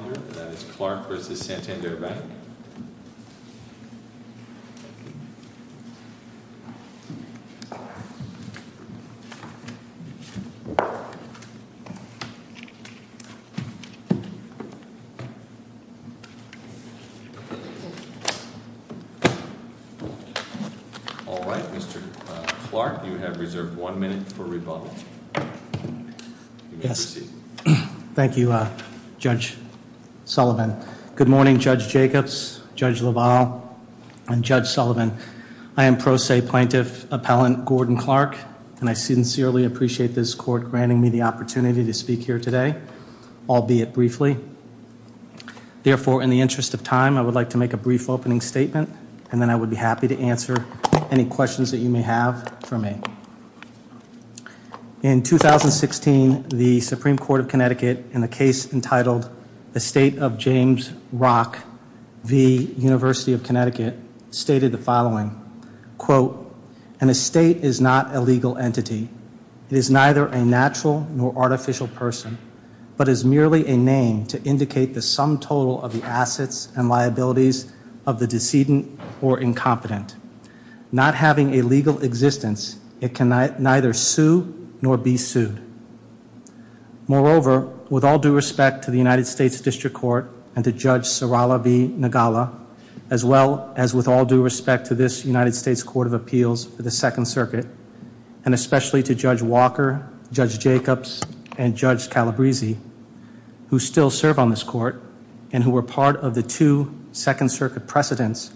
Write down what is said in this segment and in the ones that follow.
All right, Mr. Clark, you have reserved one minute for rebuttal. Yes. Thank you, Judge Sullivan. Good morning, Judge Jacobs, Judge LaValle, and Judge Sullivan. I am Pro Se Plaintiff Appellant Gordon Clark, and I sincerely appreciate this court granting me the opportunity to speak here today, albeit briefly. Therefore, in the interest of time, I would like to make a brief opening statement, and then I would be happy to answer any questions that you may have for me. In 2016, the Supreme Court of Connecticut, in a case entitled Estate of James Rock v. University of Connecticut, stated the following, quote, an estate is not a legal entity. It is neither a natural nor artificial person, but is merely a name to indicate the sum total of the assets and liabilities of the decedent or incompetent. Not having a legal existence, it can neither sue nor be sued. Moreover, with all due respect to the United States District Court and to Judge Sarala v. Nagala, as well as with all due respect to this United States Court of Appeals for the Second Circuit, and especially to Judge Walker, Judge Jacobs, and Judge Calabresi, who still serve on this court and who were part of the two Second Circuit precedents,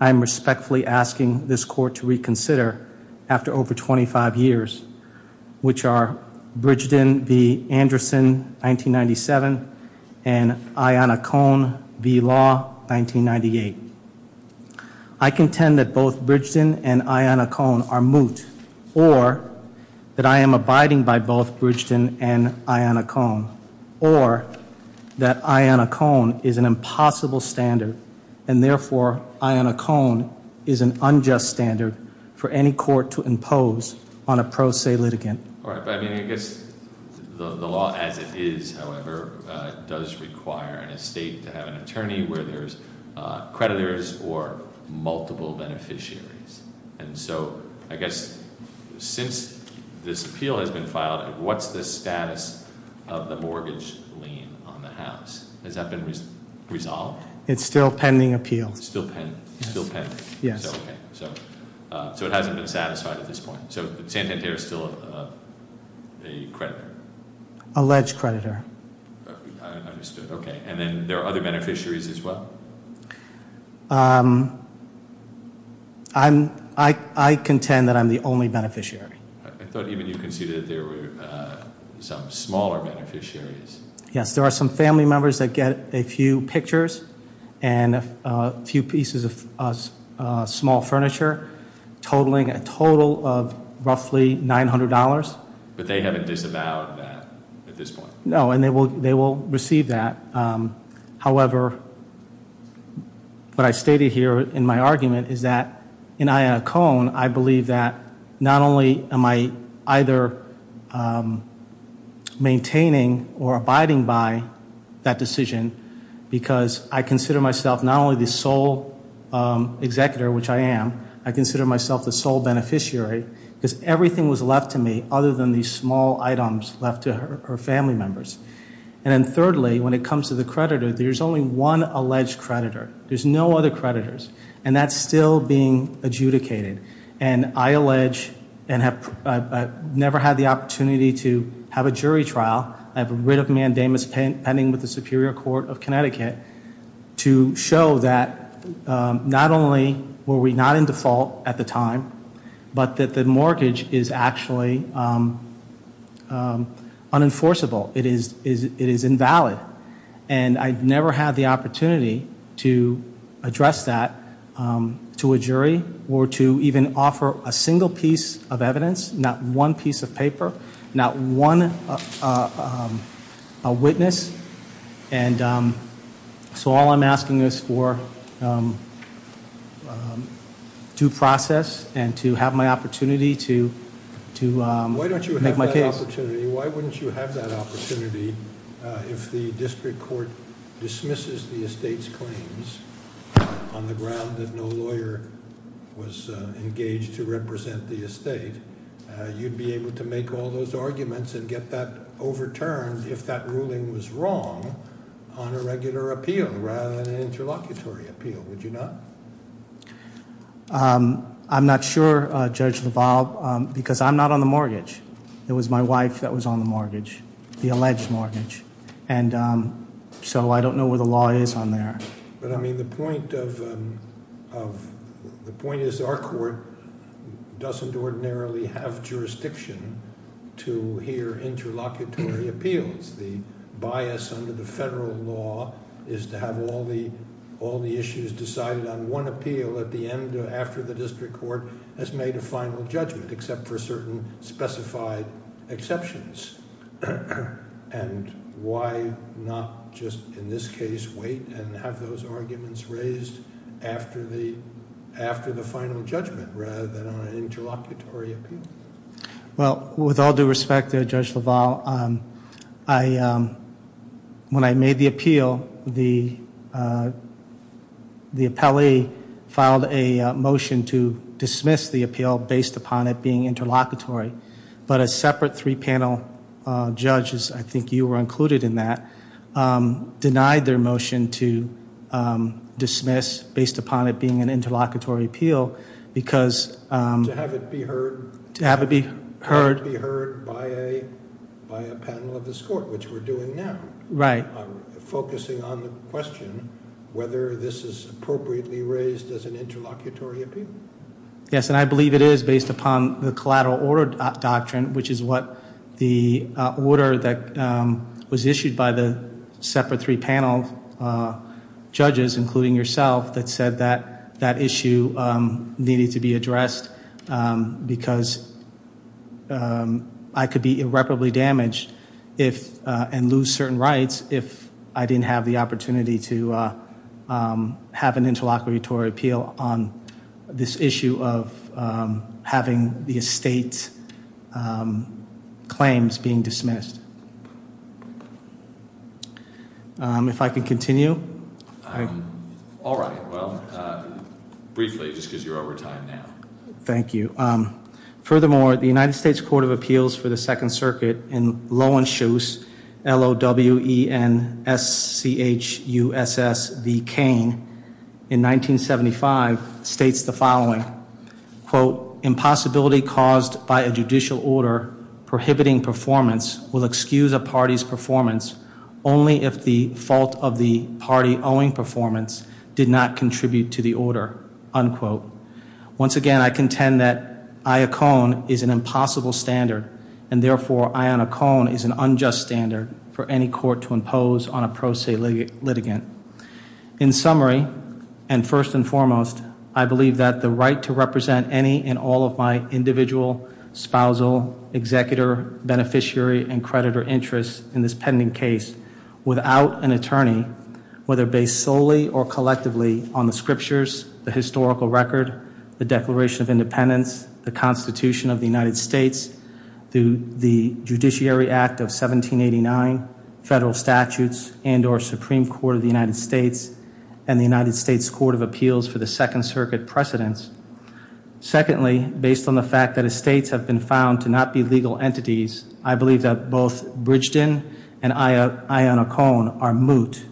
I am respectfully asking this court to reconsider, after over 25 years, which are Bridgdon v. Anderson, 1997, and Ianna Cohn v. Law, 1998. I contend that both Bridgdon and Ianna Cohn are moot, or that I am abiding by both Bridgdon and Ianna Cohn, or that Ianna Cohn is an impossible standard, and therefore Ianna Cohn is an unjust standard for any court to impose on a pro se litigant. All right, but I mean, I guess the law as it is, however, does require an estate to have an attorney where there's creditors or multiple beneficiaries. And so, I guess, since this appeal has been filed, what's the status of the mortgage lien on the house? Has that been resolved? It's still pending appeal. Still pending? Yes. Okay, so it hasn't been satisfied at this point. So, Santanter is still a creditor? Alleged creditor. I understood, okay. And then there are other beneficiaries as well? I contend that I'm the only beneficiary. I thought even you conceded that there were some smaller beneficiaries. Yes, there are some family members that get a few pictures and a few pieces of small furniture, totaling a total of roughly $900. But they haven't disavowed that at this point? No, and they will receive that. However, what I stated here in my argument is that in Ianna Cohn, I believe that not only am I either maintaining or not only the sole executor, which I am, I consider myself the sole beneficiary, because everything was left to me other than these small items left to her family members. And then thirdly, when it comes to the creditor, there's only one alleged creditor. There's no other creditors. And that's still being adjudicated. And I allege, and I've never had the opportunity to have a jury trial, I have a writ of mandamus pending with the Superior Court of Connecticut to show that not only were we not in default at the time, but that the mortgage is actually unenforceable, it is invalid. And I've never had the opportunity to address that to a jury or to even offer a single piece of evidence, not one piece of paper, not one witness, and so all I'm asking is for due process and to have my opportunity to make my case. Why don't you have that opportunity? Why wouldn't you have that opportunity if the district court dismisses the estate's claims on the ground that no lawyer was engaged to represent the estate? You'd be able to make all those arguments and get that overturned if that ruling was wrong on a regular appeal rather than an interlocutory appeal, would you not? I'm not sure, Judge LaValle, because I'm not on the mortgage. It was my wife that was on the mortgage, the alleged mortgage. And so I don't know where the law is on there. But I mean, the point is our court doesn't ordinarily have jurisdiction to hear interlocutory appeals. The bias under the federal law is to have all the issues decided on one appeal at the end after the district court has made a final judgment except for certain specified exceptions. And why not just, in this case, wait and have those arguments raised after the final judgment rather than on an interlocutory appeal? Well, with all due respect, Judge LaValle, when I made the appeal, the appellee filed a motion to dismiss the appeal based upon it being interlocutory. But a separate three panel judge, I think you were included in that, denied their motion to dismiss based upon it being an interlocutory appeal because- To have it be heard. To have it be heard. To have it be heard by a panel of this court, which we're doing now. Right. Focusing on the question whether this is appropriately raised as an interlocutory appeal. Yes, and I believe it is based upon the collateral order doctrine, which is what the order that was issued by the separate three panel judges, including yourself, that said that that issue needed to be addressed because I could be irreparably damaged and lose certain rights if I didn't have the opportunity to have an interlocutory appeal on this issue of having the estate's claims being dismissed. If I could continue. All right, well, briefly, just because you're over time now. Thank you. Furthermore, the United States Court of Appeals for the Second Circuit in Loewenschutz, L-O-W-E-N-S-C-H-U-S-S-V Kane, in 1975, states the following. Quote, impossibility caused by a judicial order prohibiting performance will excuse a party's performance only if the fault of the party owing performance did not contribute to the order, unquote. Once again, I contend that Iacone is an impossible standard, and a standard for any court to impose on a pro se litigant. In summary, and first and foremost, I believe that the right to represent any and all of my individual, spousal, executor, beneficiary, and creditor interests in this pending case without an attorney, whether based solely or collectively on the scriptures, the historical record, the Declaration of Independence, the Constitution of the United States, the Judiciary Act of 1789, federal statutes, and or Supreme Court of the United States, and the United States Court of Appeals for the Second Circuit precedence. Secondly, based on the fact that estates have been found to not be legal entities, I believe that both Bridgeton and Iacone are moot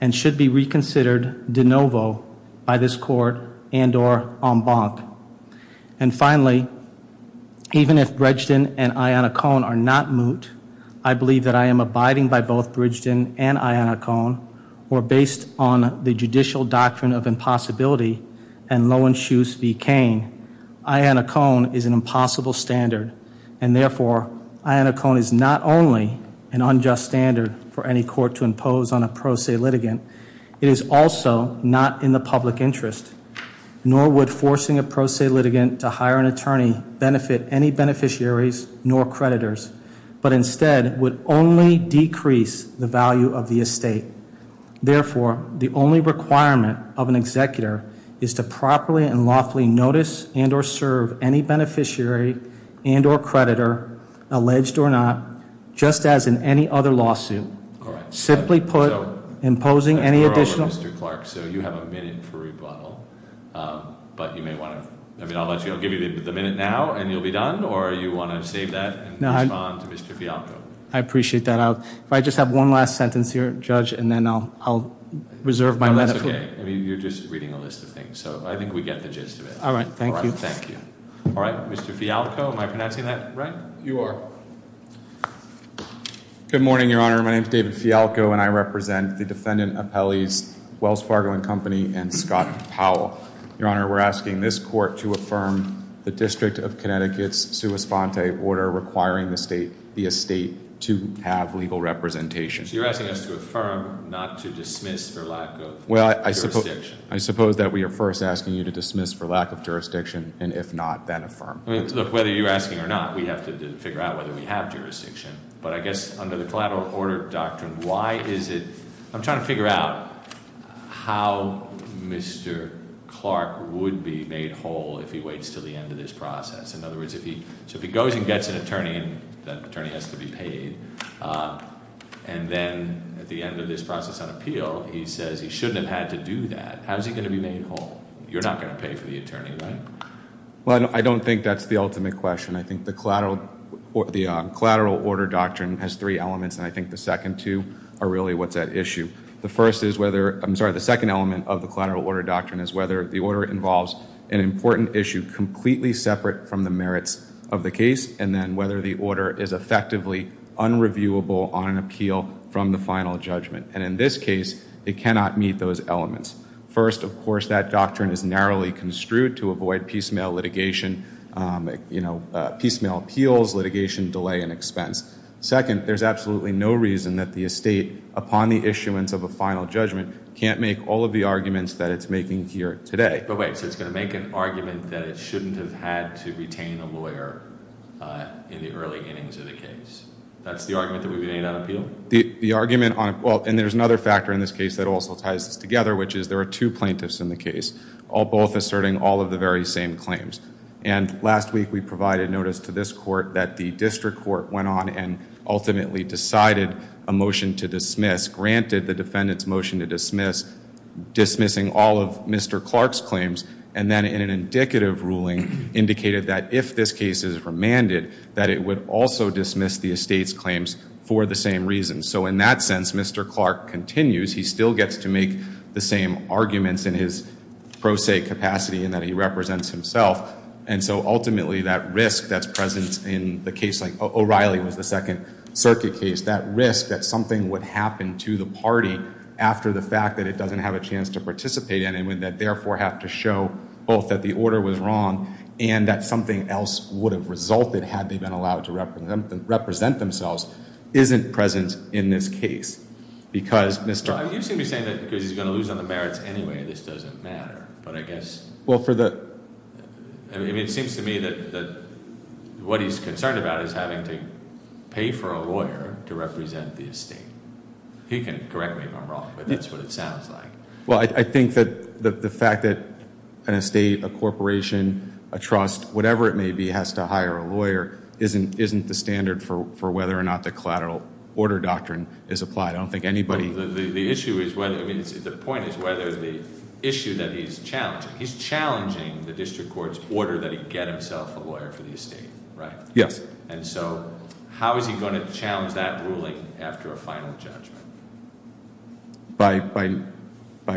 and should be reconsidered de novo by this court and or en banc. And finally, even if Bridgeton and Iacone are not moot, I believe that I am abiding by both Bridgeton and Iacone, or based on the judicial doctrine of impossibility and Loewenschus v. Kane, Iacone is an impossible standard. And therefore, Iacone is not only an unjust standard for any court to impose on a pro se litigant, it is also not in the public interest. Nor would forcing a pro se litigant to hire an attorney benefit any beneficiaries nor creditors. But instead, would only decrease the value of the estate. Therefore, the only requirement of an executor is to properly and lawfully notice and or serve any beneficiary and or creditor, alleged or not, just as in any other lawsuit. Simply put, imposing any additional- But you may want to, I'll give you the minute now and you'll be done, or you want to save that and respond to Mr. Fialco. I appreciate that. If I just have one last sentence here, Judge, and then I'll reserve my letter for- No, that's okay. I mean, you're just reading a list of things, so I think we get the gist of it. All right, thank you. Thank you. All right, Mr. Fialco, am I pronouncing that right? You are. Good morning, Your Honor. My name's David Fialco, and I represent the defendant appellees, Wells Fargo and Company, and Scott Powell. Your Honor, we're asking this court to affirm the District of Connecticut's sua sponte order requiring the estate to have legal representation. So you're asking us to affirm, not to dismiss for lack of- Well, I suppose that we are first asking you to dismiss for lack of jurisdiction, and if not, then affirm. Look, whether you're asking or not, we have to figure out whether we have jurisdiction. But I guess under the collateral order doctrine, why is it, I'm trying to figure out how Mr. Clark would be made whole if he waits until the end of this process. In other words, so if he goes and gets an attorney, and that attorney has to be paid, and then at the end of this process on appeal, he says he shouldn't have had to do that. How's he going to be made whole? You're not going to pay for the attorney, right? Well, I don't think that's the ultimate question. I think the collateral order doctrine has three elements, and I think the second two are really what's at issue. The first is whether, I'm sorry, the second element of the collateral order doctrine is whether the order involves an important issue completely separate from the merits of the case, and then whether the order is effectively unreviewable on an appeal from the final judgment. And in this case, it cannot meet those elements. First, of course, that doctrine is narrowly construed to avoid piecemeal litigation, you know, piecemeal appeals, litigation, delay, and expense. Second, there's absolutely no reason that the estate, upon the issuance of a final judgment, can't make all of the arguments that it's making here today. But wait, so it's going to make an argument that it shouldn't have had to retain a lawyer in the early innings of the case. That's the argument that would be made on appeal? The argument on, well, and there's another factor in this case that also ties this together, which is there are two plaintiffs in the case, both asserting all of the very same claims. And last week, we provided notice to this court that the district court went on and ultimately decided a motion to dismiss, granted the defendant's motion to dismiss, dismissing all of Mr. Clark's claims, and then in an indicative ruling indicated that if this case is remanded, that it would also dismiss the estate's claims for the same reason. So in that sense, Mr. Clark continues. He still gets to make the same arguments in his pro se capacity in that he represents himself. And so ultimately, that risk that's present in the case like O'Reilly was the second circuit case, that risk that something would happen to the party after the fact that it doesn't have a chance to participate in it, and would therefore have to show both that the order was wrong and that something else would have resulted had they been allowed to represent themselves isn't present in this case. Because Mr. Clark. You seem to be saying that because he's going to lose on the merits anyway, this doesn't matter. But I guess. Well, for the. I mean, it seems to me that what he's concerned about is having to pay for a lawyer to represent the estate. He can correct me if I'm wrong, but that's what it sounds like. Well, I think that the fact that an estate, a corporation, a trust, whatever it may be, has to hire a lawyer isn't the standard for whether or not the collateral order doctrine is applied. I don't think anybody. The issue is whether. I mean, the point is whether the issue that he's challenging. He's challenging the district court's order that he get himself a lawyer for the estate, right? Yes. And so how is he going to challenge that ruling after a final judgment? By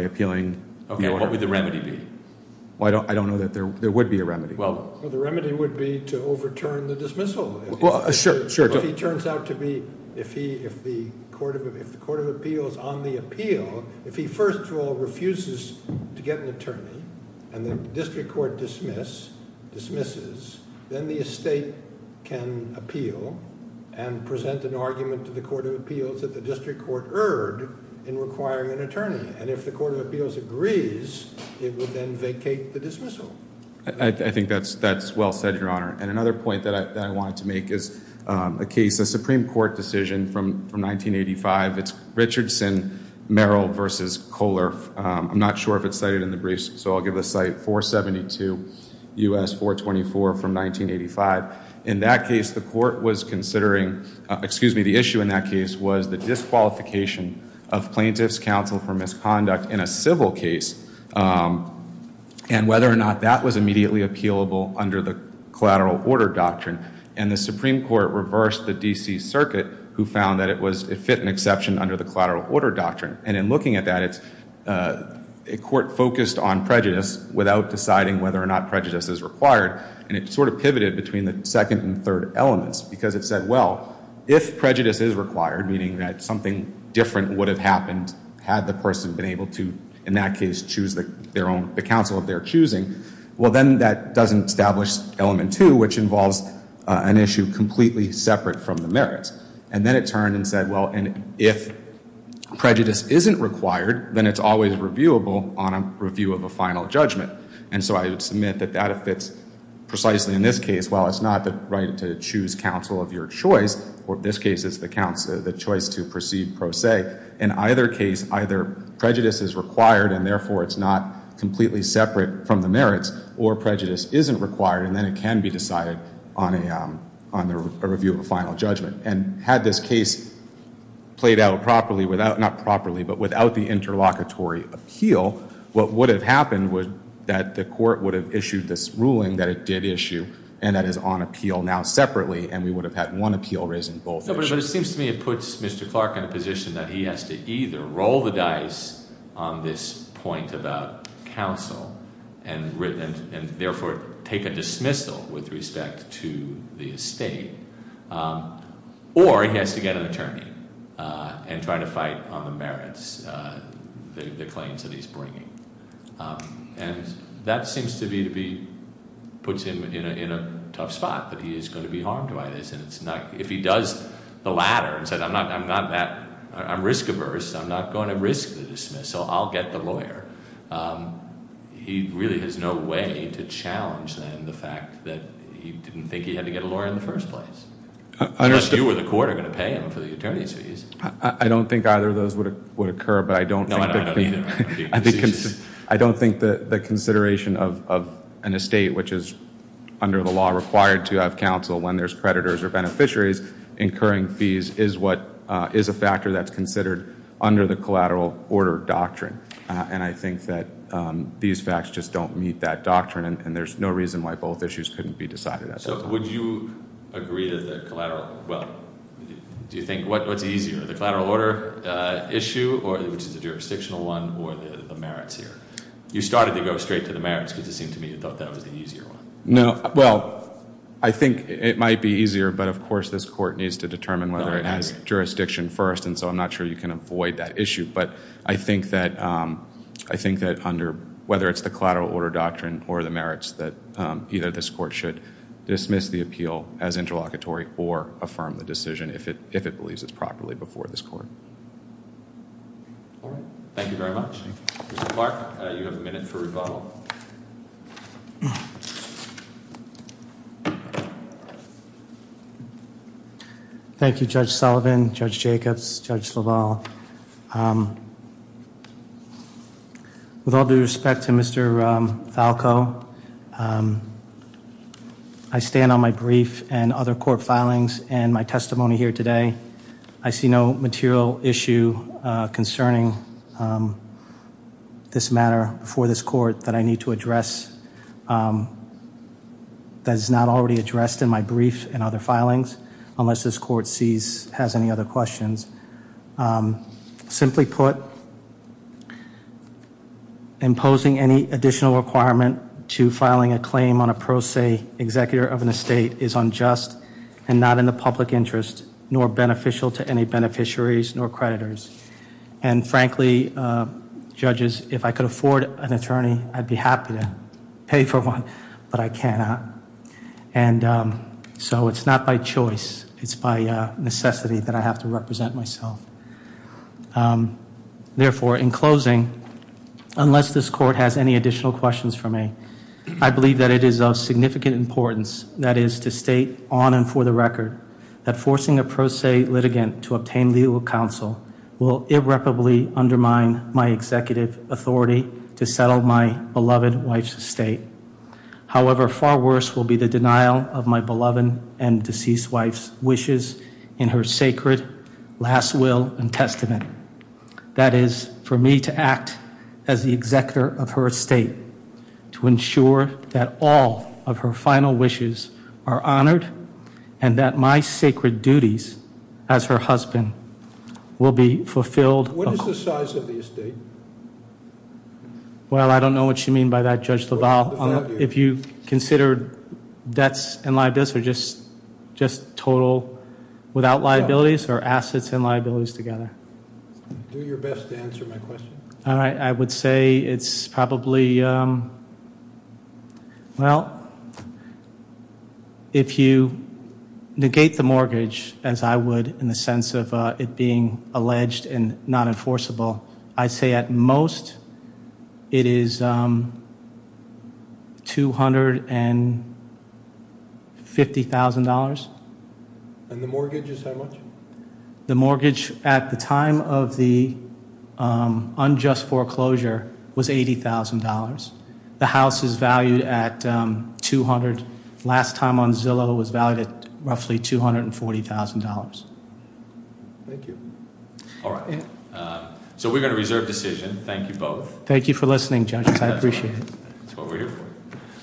appealing. Okay, what would the remedy be? Well, I don't know that there would be a remedy. Well, the remedy would be to overturn the dismissal. Well, sure. If he turns out to be, if the court of appeal is on the appeal, if he, first of all, refuses to get an attorney, and the district court dismisses, then the estate can appeal and present an argument to the court of appeals that the district court erred in requiring an attorney. And if the court of appeals agrees, it would then vacate the dismissal. I think that's well said, Your Honor. And another point that I wanted to make is a case, a Supreme Court decision from 1985. It's Richardson, Merrill v. Kohler. I'm not sure if it's cited in the briefs, so I'll give the site 472 U.S. 424 from 1985. In that case, the court was considering, excuse me, the issue in that case was the disqualification of plaintiff's counsel for misconduct in a civil case. And whether or not that was immediately appealable under the collateral order doctrine. And the Supreme Court reversed the D.C. Circuit, who found that it was, it fit an exception under the collateral order doctrine. And in looking at that, it's, a court focused on prejudice without deciding whether or not prejudice is required, and it sort of pivoted between the second and third elements. Because it said, well, if prejudice is required, meaning that something different would have happened had the person been able to, in that case, choose their own, the counsel of their choosing. Well, then that doesn't establish element two, which involves an issue completely separate from the merits. And then it turned and said, well, and if prejudice isn't required, then it's always reviewable on a review of a final judgment. And so I would submit that that fits precisely in this case. Well, it's not the right to choose counsel of your choice, or in this case it's the choice to proceed pro se. In either case, either prejudice is required, and therefore it's not completely separate from the merits, or prejudice isn't required, and then it can be decided on a review of a final judgment. And had this case played out properly without, not properly, but without the interlocutory appeal, what would have happened was that the court would have issued this ruling that it did issue, and that is on appeal now separately, and we would have had one appeal raising both issues. But it seems to me it puts Mr. Clark in a position that he has to either roll the dice on this point about counsel, and therefore take a dismissal with respect to the estate, or he has to get an attorney and try to fight on the merits, the claims that he's bringing. And that seems to be, puts him in a tough spot, that he is going to be harmed by this. If he does the latter, and says, I'm not that, I'm risk averse, I'm not going to risk the dismissal, I'll get the lawyer, he really has no way to challenge then the fact that he didn't think he had to get a lawyer in the first place. Unless you or the court are going to pay him for the attorney's fees. I don't think either of those would occur, but I don't think... No, I don't either. I don't think the consideration of an estate, which is under the law required to have counsel when there's creditors or beneficiaries, incurring fees is a factor that's considered under the collateral order doctrine. And I think that these facts just don't meet that doctrine, and there's no reason why both issues couldn't be decided at that time. So would you agree to the collateral, well, do you think, what's easier, the collateral order issue, which is the jurisdictional one, or the merits here? You started to go straight to the merits because it seemed to me you thought that was the easier one. No, well, I think it might be easier, but of course this court needs to determine whether it has jurisdiction first, and so I'm not sure you can avoid that issue. But I think that under, whether it's the collateral order doctrine or the merits, that either this court should dismiss the appeal as interlocutory or affirm the decision if it believes it's properly before this court. All right. Thank you very much. Mr. Clark, you have a minute for rebuttal. Thank you, Judge Sullivan, Judge Jacobs, Judge LaValle. With all due respect to Mr. Falco, I stand on my brief and other court filings and my testimony here today. I see no material issue concerning this matter before this court that I need to address, that is not already addressed in my brief and other filings, unless this court sees, has any other questions. Simply put, imposing any additional requirement to filing a claim on a pro se executor of an estate is unjust and not in the public interest nor beneficial to any beneficiaries nor creditors. And frankly, judges, if I could afford an attorney, I'd be happy to pay for one, but I cannot. And so it's not by choice, it's by necessity that I have to represent myself. Therefore, in closing, unless this court has any additional questions for me, I believe that it is of significant importance, that is to state on and for the record, that forcing a pro se litigant to obtain legal counsel will irreparably undermine my executive authority to settle my beloved wife's estate. However, far worse will be the denial of my beloved and deceased wife's wishes in her sacred last will and testament. That is, for me to act as the executor of her estate, to ensure that all of her final wishes are honored and that my sacred duties as her husband will be fulfilled. What is the size of the estate? Well, I don't know what you mean by that, Judge LaValle. If you considered debts and liabilities or just total without liabilities or assets and liabilities together. Do your best to answer my question. All right, I would say it's probably, well, if you negate the mortgage as I would in the sense of it being alleged and not enforceable. I say at most it is $250,000. And the mortgage is how much? The mortgage at the time of the unjust foreclosure was $80,000. The house is valued at 200, last time on Zillow was valued at roughly $240,000. Thank you. All right, so we're going to reserve decision. Thank you both. Thank you for listening, judges. I appreciate it. That's what we're here for.